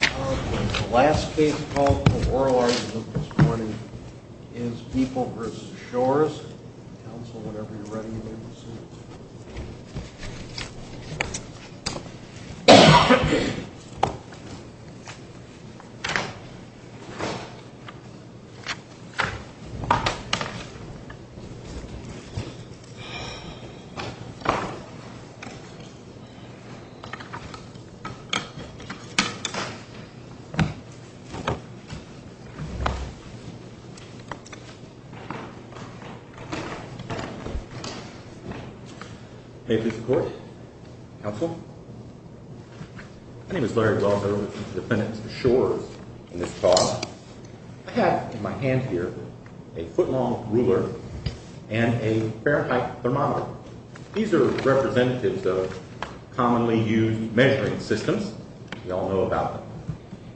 The last case called for oral argument this morning is People v. Shores. Counsel, whenever you're ready, you may proceed. May it please the Court? Counsel? My name is Larry Wells. I represent the defendants of Shores in this cause. I have in my hand here a foot-long ruler and a Fahrenheit thermometer. These are representatives of commonly used measuring systems. We all know about them.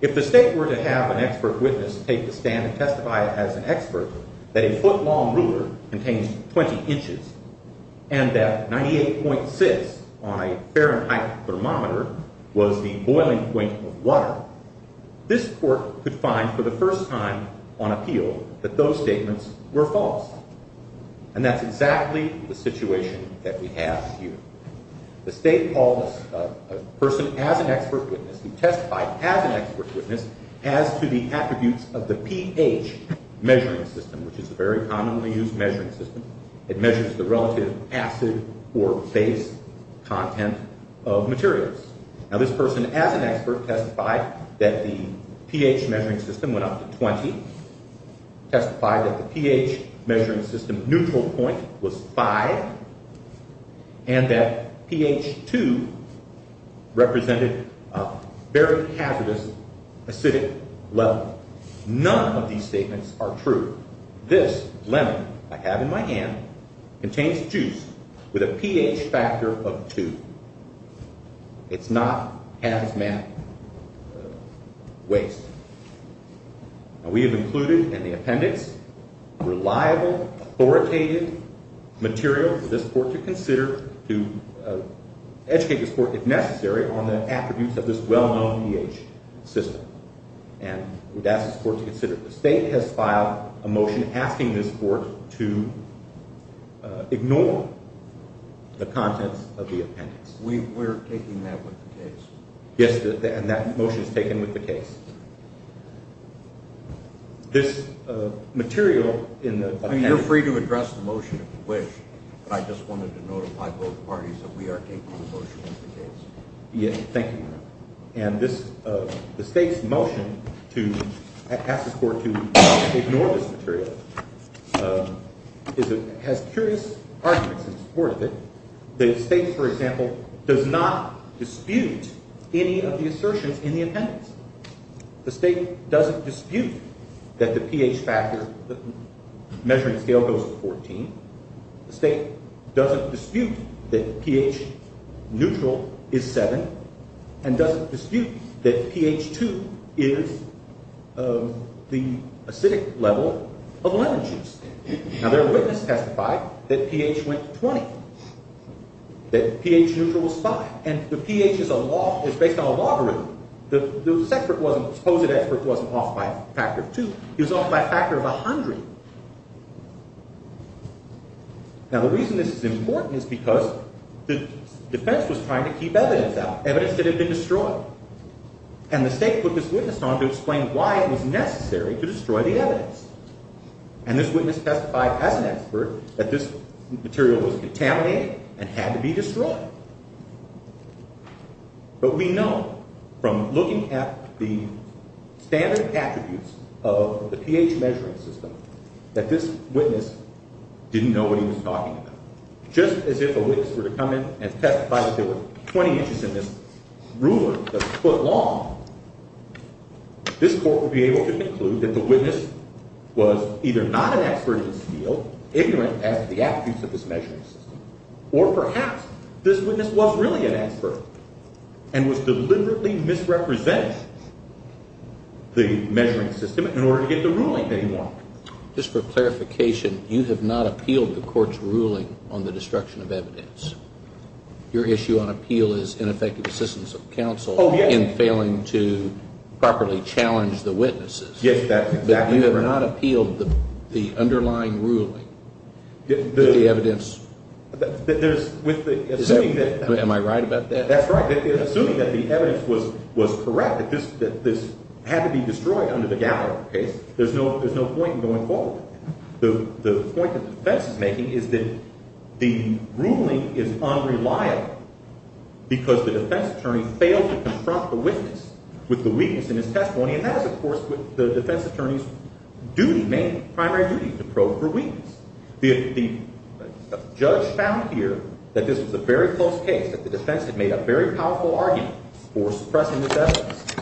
If the State were to have an expert witness take the stand and testify as an expert that a foot-long ruler contains 20 inches and that 98.6 on a Fahrenheit thermometer was the boiling point of water, this Court could find for the first time on appeal that those statements were false. And that's exactly the situation that we have here. The State called a person as an expert witness who testified as an expert witness as to the attributes of the pH measuring system, which is a very commonly used measuring system. It measures the relative acid or base content of materials. Now, this person as an expert testified that the pH measuring system went up to 20, testified that the pH measuring system neutral point was 5, and that pH 2 represented a very hazardous acidic level. None of these statements are true. This lemon I have in my hand contains juice with a pH factor of 2. It's not hazmat waste. Now, we have included in the appendix reliable, authoritative material for this Court to consider to educate this Court, if necessary, on the attributes of this well-known pH system. And we'd ask this Court to consider it. The State has filed a motion asking this Court to ignore the contents of the appendix. We're taking that with the case. Yes, and that motion is taken with the case. This material in the appendix. You're free to address the motion if you wish, but I just wanted to notify both parties that we are taking the motion with the case. Yes, thank you. And the State's motion to ask this Court to ignore this material has curious arguments in support of it. The State, for example, does not dispute any of the assertions in the appendix. The State doesn't dispute that the pH factor measuring scale goes to 14. The State doesn't dispute that pH neutral is 7, and doesn't dispute that pH 2 is the acidic level of lemon juice. Now, their witness testified that pH went to 20, that pH neutral was 5. And the pH is based on a logarithm. The supposed expert wasn't off by a factor of 2. He was off by a factor of 100. Now, the reason this is important is because the defense was trying to keep evidence out, evidence that had been destroyed. And the State put this witness on to explain why it was necessary to destroy the evidence. And this witness testified as an expert that this material was contaminated and had to be destroyed. But we know from looking at the standard attributes of the pH measuring system that this witness didn't know what he was talking about. Just as if a witness were to come in and testify that there were 20 inches in this ruler that's a foot long, this court would be able to conclude that the witness was either not an expert in this field, ignorant as to the attributes of this measuring system, or perhaps this witness was really an expert and was deliberately misrepresenting the measuring system in order to get the ruling that he wanted. Just for clarification, you have not appealed the court's ruling on the destruction of evidence. Your issue on appeal is ineffective assistance of counsel in failing to properly challenge the witnesses. Yes, that's exactly right. But you have not appealed the underlying ruling with the evidence. Am I right about that? That's right. Assuming that the evidence was correct, that this had to be destroyed under the Gallard case, there's no point in going forward. The point that the defense is making is that the ruling is unreliable because the defense attorney failed to confront the witness with the weakness in his testimony, and that is, of course, the defense attorney's primary duty to probe for weakness. The judge found here that this was a very close case, that the defense had made a very powerful argument for suppressing this evidence,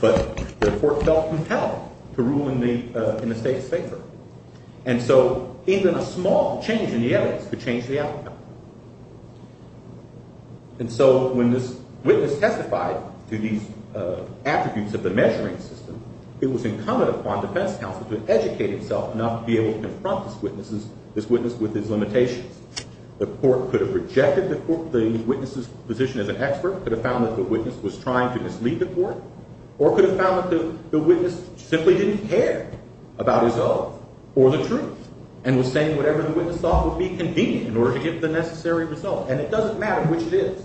but the court felt compelled to rule in the state's favor. And so even a small change in the evidence could change the outcome. And so when this witness testified to these attributes of the measuring system, it was incumbent upon defense counsel to educate himself enough to be able to confront this witness with his limitations. The court could have rejected the witness's position as an expert, could have found that the witness was trying to mislead the court, or could have found that the witness simply didn't care about his own or the truth and was saying whatever the witness thought would be convenient in order to get the necessary result. And it doesn't matter which it is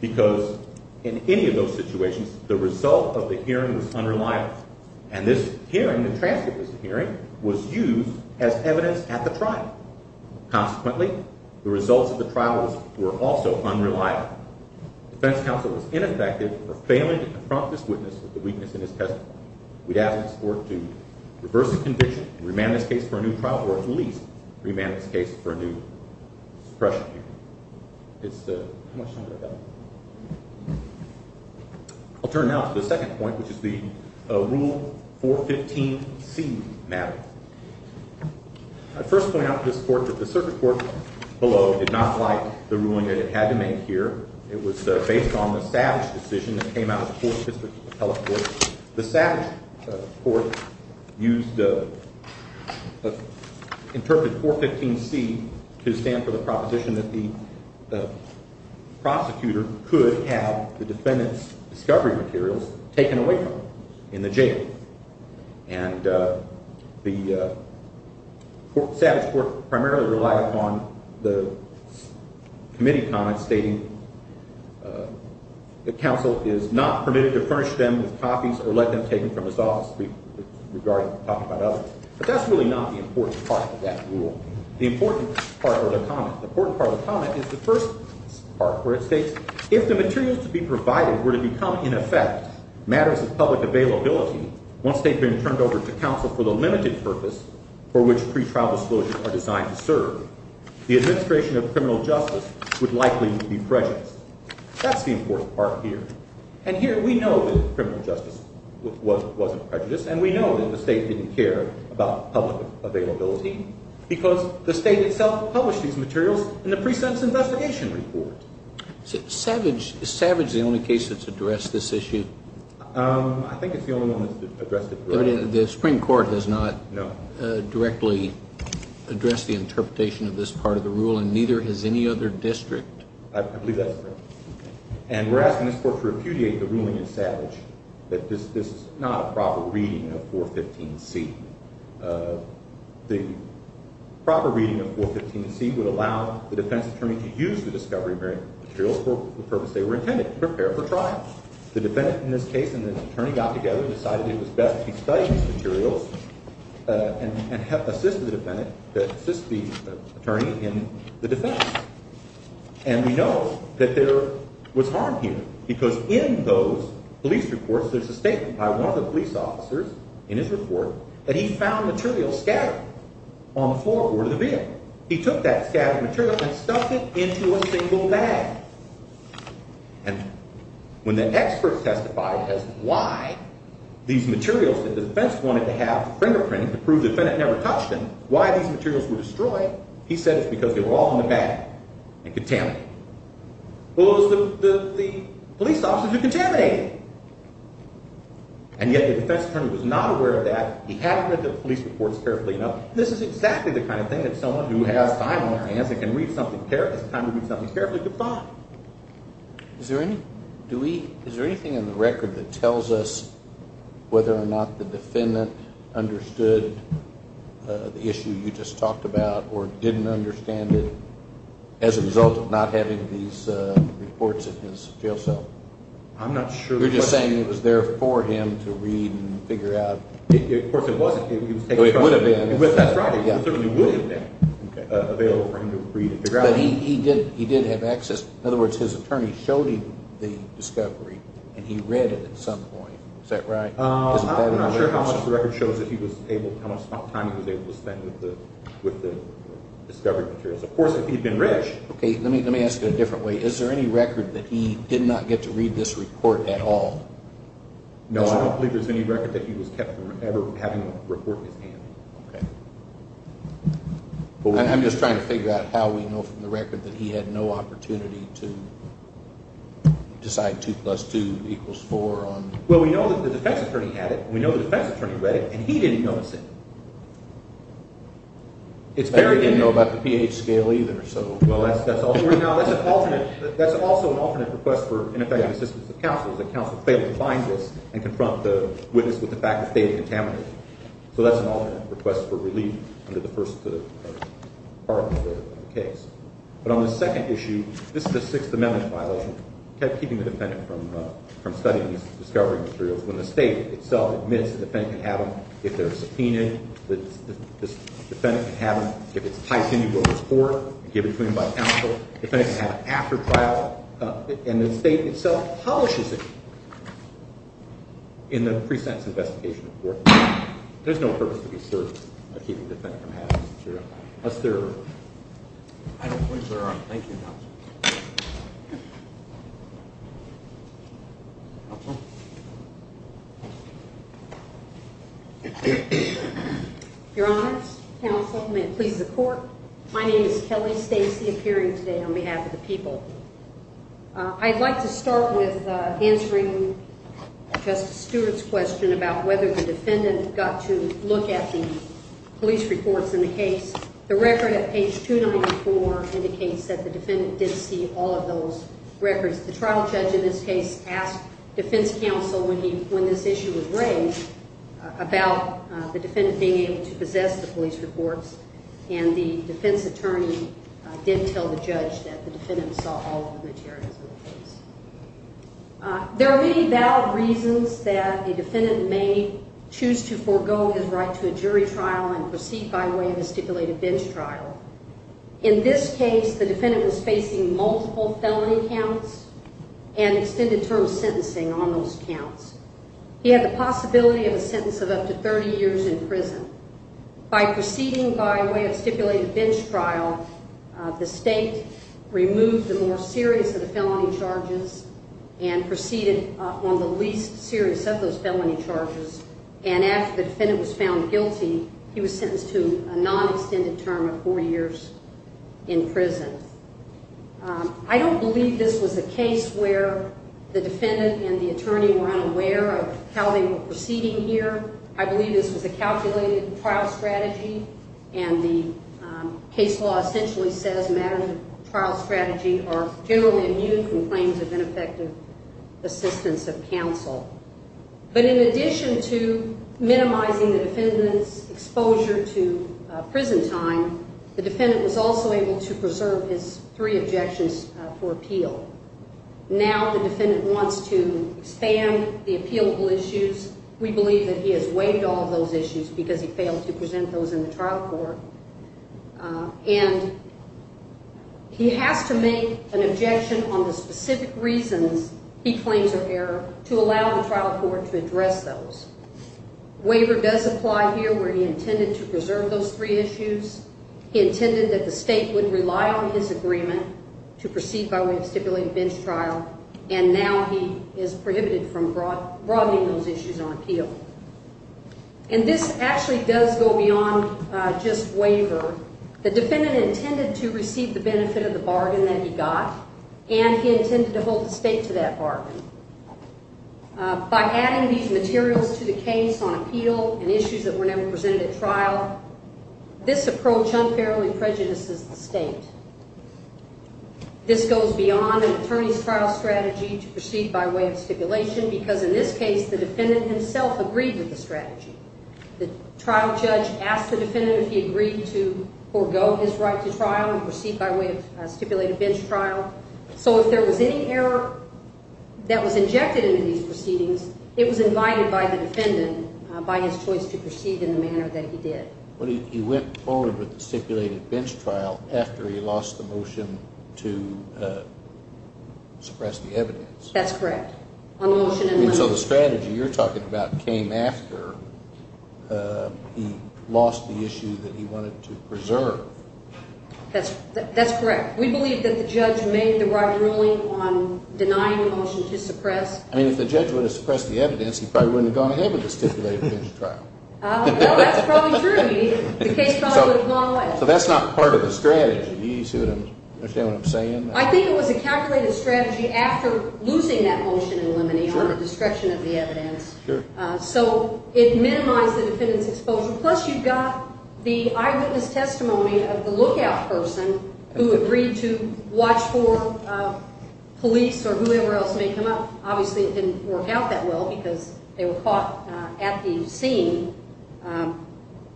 because in any of those situations, the result of the hearing was unreliable. And this hearing, the transcript of this hearing, was used as evidence at the trial. Consequently, the results of the trial were also unreliable. Defense counsel was ineffective for failing to confront this witness with the weakness in his testimony. We'd ask this court to reverse the conviction, remand this case for a new trial, or at least remand this case for a new suppression hearing. I'll turn now to the second point, which is the Rule 415C matter. I'd first point out to this court that the circuit court below did not like the ruling that it had to make here. It was based on the Savage decision that came out of the Fourth District Appellate Court. The Savage court interpreted 415C to stand for the proposition that the prosecutor could have the defendant's discovery materials taken away from him in the jail. And the Savage court primarily relied upon the committee comment stating that counsel is not permitted to furnish them with copies or let them taken from his office. But that's really not the important part of that rule. The important part of the comment is the first part where it states, if the materials to be provided were to become, in effect, matters of public availability once they'd been turned over to counsel for the limited purpose for which pretrial disclosures are designed to serve, the administration of criminal justice would likely be prejudiced. That's the important part here. And here we know that criminal justice wasn't prejudiced, and we know that the state didn't care about public availability because the state itself published these materials in the pre-sentence investigation report. Is Savage the only case that's addressed this issue? I think it's the only one that's addressed it directly. The Supreme Court has not directly addressed the interpretation of this part of the rule, and neither has any other district. I believe that's correct. And we're asking this court to repudiate the ruling in Savage that this is not a proper reading of 415C. The proper reading of 415C would allow the defense attorney to use the discovery materials for the purpose they were intended, to prepare for trial. The defendant in this case and the attorney got together and decided it was best to study these materials and assist the attorney in the defense. And we know that there was harm here because in those police reports, there's a statement by one of the police officers in his report that he found materials scattered on the floorboard of the vehicle. He took that scattered material and stuffed it into a single bag. And when the expert testified as to why these materials that the defense wanted to have fingerprinted to prove the defendant never touched them, why these materials were destroyed, he said it's because they were all in the bag and contaminated. Well, it was the police officers who contaminated it. And yet the defense attorney was not aware of that. He hadn't read the police reports carefully enough. This is exactly the kind of thing that someone who has time on their hands and can read something carefully, it's time to read something carefully to find. Is there anything in the record that tells us whether or not the defendant understood the issue you just talked about or didn't understand it as a result of not having these reports in his jail cell? I'm not sure. You're just saying it was there for him to read and figure out? Of course it wasn't. It would have been. That's right. It certainly would have been available for him to read and figure out. But he did have access. In other words, his attorney showed him the discovery, and he read it at some point. Is that right? I'm not sure how much of the record shows how much time he was able to spend with the discovery materials. Of course, if he had been rich. Okay, let me ask it a different way. Is there any record that he did not get to read this report at all? No, I don't believe there's any record that he was kept from ever having a report in his hand. Okay. I'm just trying to figure out how we know from the record that he had no opportunity to decide 2 plus 2 equals 4. Well, we know that the defense attorney had it, and we know the defense attorney read it, and he didn't notice it. He didn't know about the pH scale either. Well, that's also an alternate request for ineffective assistance of counsel, is that counsel failed to find this and confront the witness with the fact that they had contaminated it. So that's an alternate request for relief under the first part of the case. But on the second issue, this is a Sixth Amendment violation, keeping the defendant from studying the discovery materials, when the state itself admits the defendant can have them if they're subpoenaed, the defendant can have them if it's tight and you go to court and give it to him by counsel, the defendant can have it after trial, and the state itself publishes it in the pre-sentence investigation report. There's no purpose to be served by keeping the defendant from having them. Unless there are other points that are on. Thank you, counsel. Your Honors, counsel, may it please the Court, my name is Kelly Stacy, appearing today on behalf of the people. I'd like to start with answering Justice Stewart's question about whether the defendant got to look at the police reports in the case. The record at page 294 indicates that the defendant did see all of those records. The trial judge in this case asked defense counsel when this issue was raised about the defendant being able to possess the police reports, and the defense attorney did tell the judge that the defendant saw all of the materials in the case. There are many valid reasons that a defendant may choose to forego his right to a jury trial and proceed by way of a stipulated bench trial. In this case, the defendant was facing multiple felony counts and extended term sentencing on those counts. He had the possibility of a sentence of up to 30 years in prison. By proceeding by way of stipulated bench trial, the state removed the more serious of the felony charges and proceeded on the least serious of those felony charges, and after the defendant was found guilty, he was sentenced to a non-extended term of four years in prison. I don't believe this was a case where the defendant and the attorney were unaware of how they were proceeding here. I believe this was a calculated trial strategy, and the case law essentially says matters of trial strategy are generally immune from claims of ineffective assistance of counsel. But in addition to minimizing the defendant's exposure to prison time, the defendant was also able to preserve his three objections for appeal. Now the defendant wants to expand the appealable issues. We believe that he has waived all of those issues because he failed to present those in the trial court, and he has to make an objection on the specific reasons he claims are error to allow the trial court to address those. Waiver does apply here where he intended to preserve those three issues. He intended that the state would rely on his agreement to proceed by way of stipulated bench trial, and now he is prohibited from broadening those issues on appeal. And this actually does go beyond just waiver. The defendant intended to receive the benefit of the bargain that he got, and he intended to hold the state to that bargain. By adding these materials to the case on appeal and issues that were never presented at trial, this approach unfairly prejudices the state. This goes beyond an attorney's trial strategy to proceed by way of stipulation because in this case the defendant himself agreed with the strategy. The trial judge asked the defendant if he agreed to forego his right to trial and proceed by way of stipulated bench trial. So if there was any error that was injected into these proceedings, it was invited by the defendant by his choice to proceed in the manner that he did. He went forward with the stipulated bench trial after he lost the motion to suppress the evidence. That's correct. So the strategy you're talking about came after he lost the issue that he wanted to preserve. That's correct. We believe that the judge made the right ruling on denying the motion to suppress. I mean, if the judge would have suppressed the evidence, he probably wouldn't have gone ahead with the stipulated bench trial. No, that's probably true. The case probably would have gone away. So that's not part of the strategy. Do you understand what I'm saying? I think it was a calculated strategy after losing that motion in limine on the destruction of the evidence. So it minimized the defendant's exposure. Plus you've got the eyewitness testimony of the lookout person who agreed to watch for police or whoever else may come up. Obviously, it didn't work out that well because they were caught at the scene.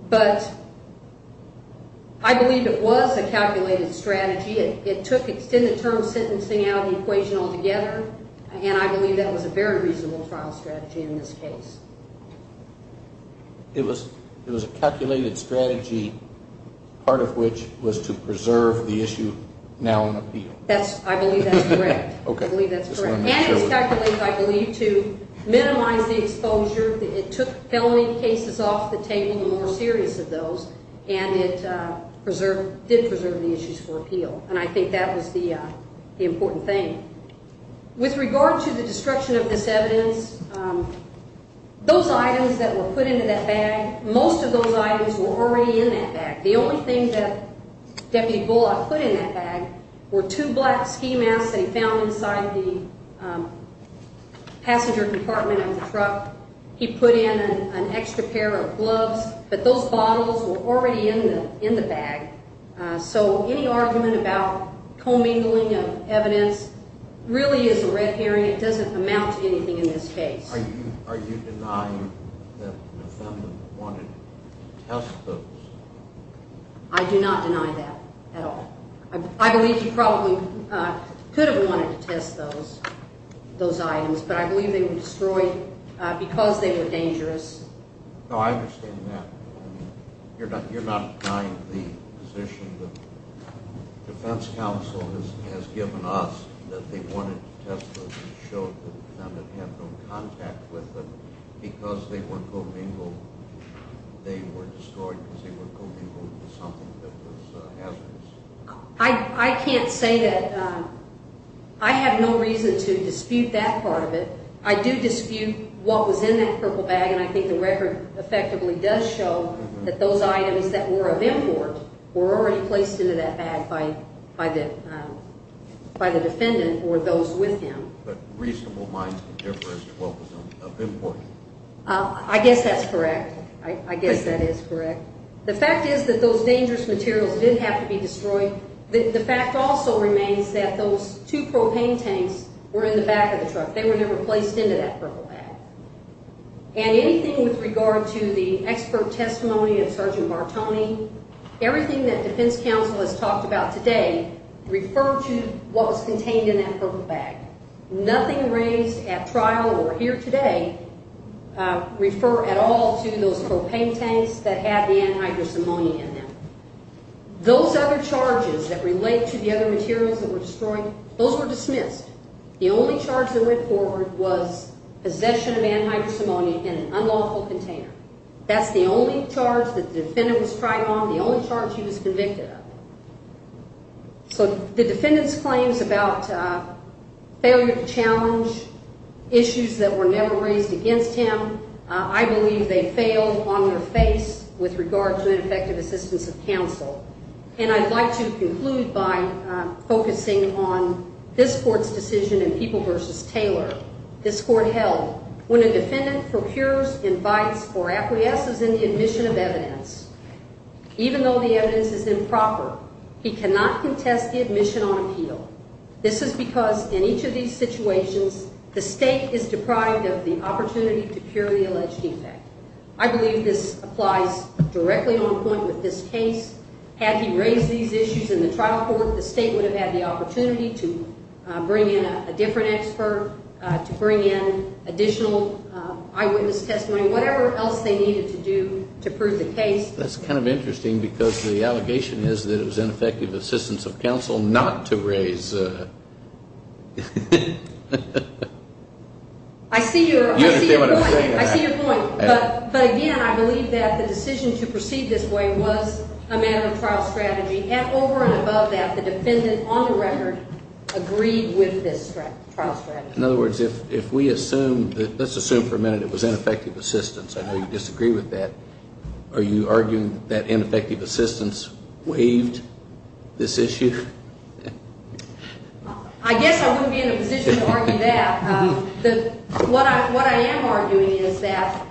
But I believe it was a calculated strategy. It took extended term sentencing out of the equation altogether, and I believe that was a very reasonable trial strategy in this case. It was a calculated strategy, part of which was to preserve the issue now on appeal. I believe that's correct. I believe that's correct. And it was calculated, I believe, to minimize the exposure. It took felony cases off the table, the more serious of those, and it did preserve the issues for appeal. And I think that was the important thing. With regard to the destruction of this evidence, those items that were put into that bag, most of those items were already in that bag. The only thing that Deputy Bullock put in that bag were two black ski masks that he found inside the passenger compartment of the truck. He put in an extra pair of gloves. But those bottles were already in the bag. So any argument about commingling of evidence really is a red herring. It doesn't amount to anything in this case. Are you denying that the defendant wanted to test those? I do not deny that at all. I believe he probably could have wanted to test those items, but I believe they were destroyed because they were dangerous. No, I understand that. You're not denying the position that defense counsel has given us, that they wanted to test those and showed the defendant had no contact with them because they were commingled? They were destroyed because they were commingled with something that was hazardous? I can't say that. I have no reason to dispute that part of it. I do dispute what was in that purple bag, and I think the record effectively does show that those items that were of import were already placed into that bag by the defendant or those with him. But reasonable minds can differ as to what was of import? I guess that's correct. I guess that is correct. The fact is that those dangerous materials did have to be destroyed. The fact also remains that those two propane tanks were in the back of the truck. They were never placed into that purple bag. And anything with regard to the expert testimony of Sergeant Bartoni, everything that defense counsel has talked about today referred to what was contained in that purple bag. Nothing raised at trial or here today refer at all to those propane tanks that had the anhydrous ammonia in them. Those other charges that relate to the other materials that were destroyed, those were dismissed. The only charge that went forward was possession of anhydrous ammonia in an unlawful container. That's the only charge that the defendant was tried on, the only charge he was convicted of. So the defendant's claims about failure to challenge issues that were never raised against him, I believe they failed on their face with regard to ineffective assistance of counsel. And I'd like to conclude by focusing on this court's decision in People v. Taylor. This court held, when a defendant procures, invites, or acquiesces in the admission of evidence, even though the evidence is improper, he cannot contest the admission on appeal. This is because in each of these situations, the state is deprived of the opportunity to cure the alleged defect. I believe this applies directly on point with this case. Had he raised these issues in the trial court, the state would have had the opportunity to bring in a different expert, to bring in additional eyewitness testimony, whatever else they needed to do to prove the case. That's kind of interesting because the allegation is that it was ineffective assistance of counsel not to raise. I see your point. But again, I believe that the decision to proceed this way was a matter of trial strategy. Over and above that, the defendant on the record agreed with this trial strategy. In other words, if we assume, let's assume for a minute it was ineffective assistance. I know you disagree with that. Are you arguing that ineffective assistance waived this issue? I guess I wouldn't be in a position to argue that. What I am arguing is that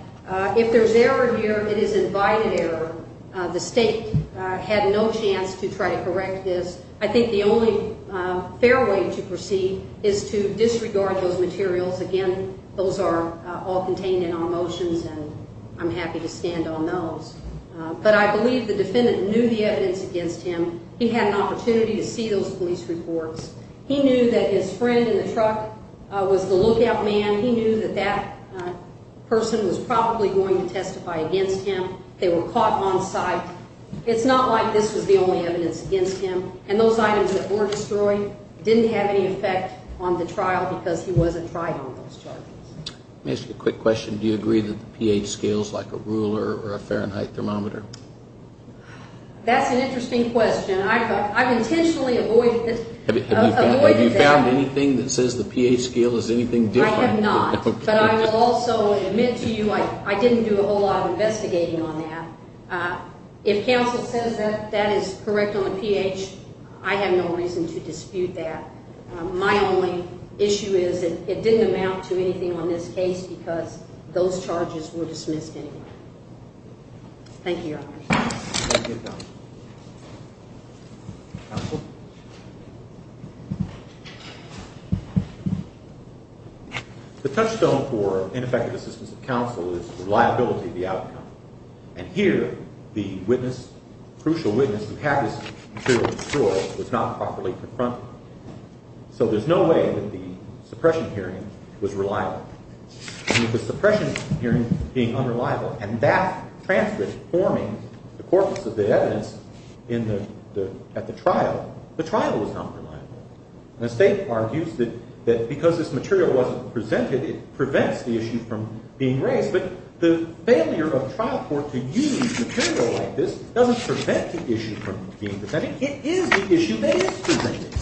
if there's error here, it is invited error. The state had no chance to try to correct this. I think the only fair way to proceed is to disregard those materials. Again, those are all contained in our motions, and I'm happy to stand on those. But I believe the defendant knew the evidence against him. He had an opportunity to see those police reports. He knew that his friend in the truck was the lookout man. He knew that that person was probably going to testify against him. They were caught on sight. It's not like this was the only evidence against him, and those items that were destroyed didn't have any effect on the trial because he wasn't tried on those charges. Let me ask you a quick question. Do you agree that the pH scales like a ruler or a Fahrenheit thermometer? That's an interesting question. I've intentionally avoided that. Have you found anything that says the pH scale is anything different? I have not, but I will also admit to you I didn't do a whole lot of investigating on that. If counsel says that that is correct on the pH, I have no reason to dispute that. My only issue is it didn't amount to anything on this case because those charges were dismissed anyway. Thank you, Your Honor. The touchstone for ineffective assistance of counsel is reliability of the outcome, and here the witness, crucial witness, who had this material destroyed was not properly confronted. So there's no way that the suppression hearing was reliable. With the suppression hearing being unreliable and that transcript forming the corpus of the evidence at the trial, the trial was not reliable. The State argues that because this material wasn't presented, it prevents the issue from being raised, but the failure of trial court to use material like this doesn't prevent the issue from being presented. It is the issue that is presented.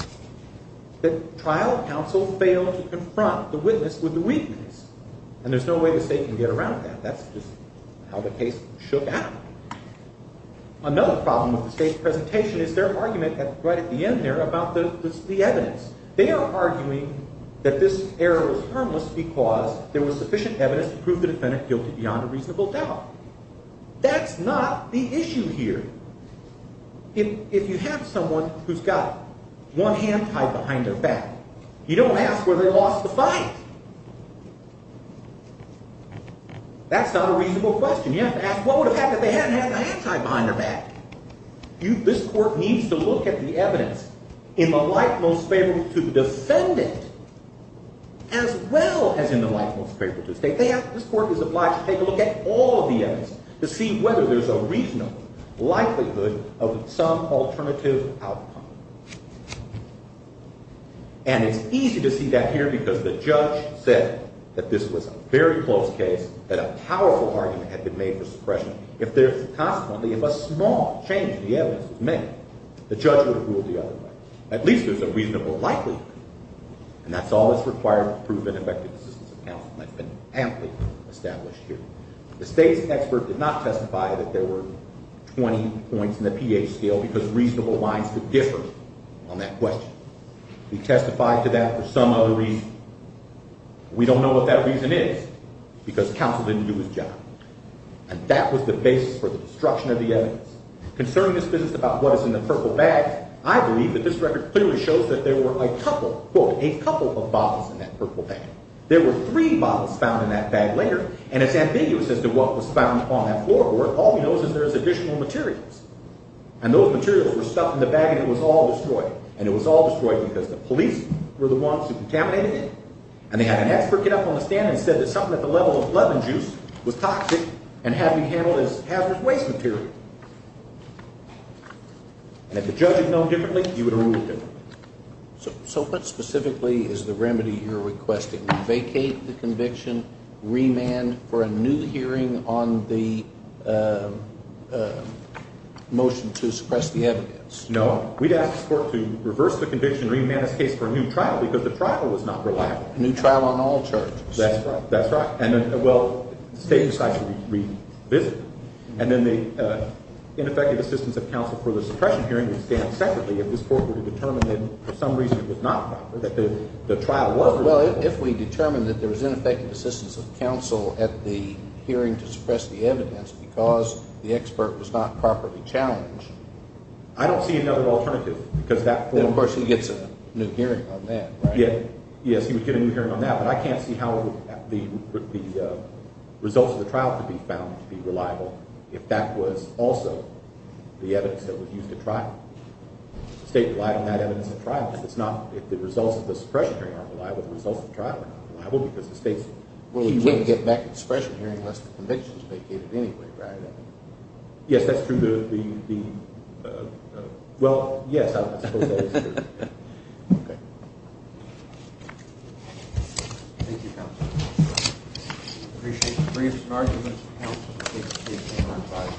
The trial counsel failed to confront the witness with the weakness, and there's no way the State can get around that. That's just how the case shook out. Another problem with the State's presentation is their argument right at the end there about the evidence. They are arguing that this error was harmless because there was sufficient evidence to prove the defendant guilty beyond a reasonable doubt. That's not the issue here. If you have someone who's got one hand tied behind their back, you don't ask whether they lost the fight. That's not a reasonable question. You have to ask what would have happened if they hadn't had the hand tied behind their back. This court needs to look at the evidence in the light most favorable to the defendant as well as in the light most favorable to the State. This court is obliged to take a look at all of the evidence to see whether there's a reasonable likelihood of some alternative outcome. And it's easy to see that here because the judge said that this was a very close case, that a powerful argument had been made for suppression. If a small change in the evidence was made, the judge would have ruled the other way. At least there's a reasonable likelihood. And that's all that's required to prove an effective assistance of counsel. That's been amply established here. The State's expert did not testify that there were 20 points in the pH scale because reasonable lines could differ on that question. He testified to that for some other reason. We don't know what that reason is because counsel didn't do his job. And that was the basis for the destruction of the evidence. Concerning this business about what is in the purple bag, I believe that this record clearly shows that there were a couple, quote, a couple of bottles in that purple bag. There were three bottles found in that bag later. And it's ambiguous as to what was found on that floorboard. All we know is that there was additional materials. And those materials were stuffed in the bag and it was all destroyed. And it was all destroyed because the police were the ones who contaminated it. And they had an expert get up on the stand and said that something at the level of lemon juice was toxic and had to be handled as hazardous waste material. And if the judge had known differently, he would have ruled differently. So what specifically is the remedy you're requesting? Vacate the conviction, remand for a new hearing on the motion to suppress the evidence? No. We'd ask the court to reverse the conviction and remand this case for a new trial because the trial was not reliable. A new trial on all charges. That's right. That's right. And then, well, the state decides to revisit it. And then the ineffective assistance of counsel for the suppression hearing would stand separately if this court were to determine that for some reason it was not proper, that the trial was reliable. Well, if we determined that there was ineffective assistance of counsel at the hearing to suppress the evidence because the expert was not properly challenged. I don't see another alternative. And, of course, he gets a new hearing on that, right? Yes, he would get a new hearing on that. But I can't see how the results of the trial could be found to be reliable if that was also the evidence that was used at trial. The state relied on that evidence at trial. If the results of the suppression hearing aren't reliable, the results of the trial are not reliable because the state's… Well, we can't get back to the suppression hearing unless the conviction is vacated anyway, right? Yes, that's true. Well, yes, I suppose that is true. Okay. Thank you, counsel. I appreciate the briefs and arguments of counsel. I take this case to my side.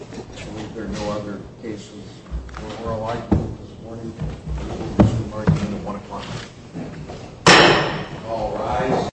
I believe there are no other cases more likely this morning. This court is adjourned at 1 o'clock. All rise.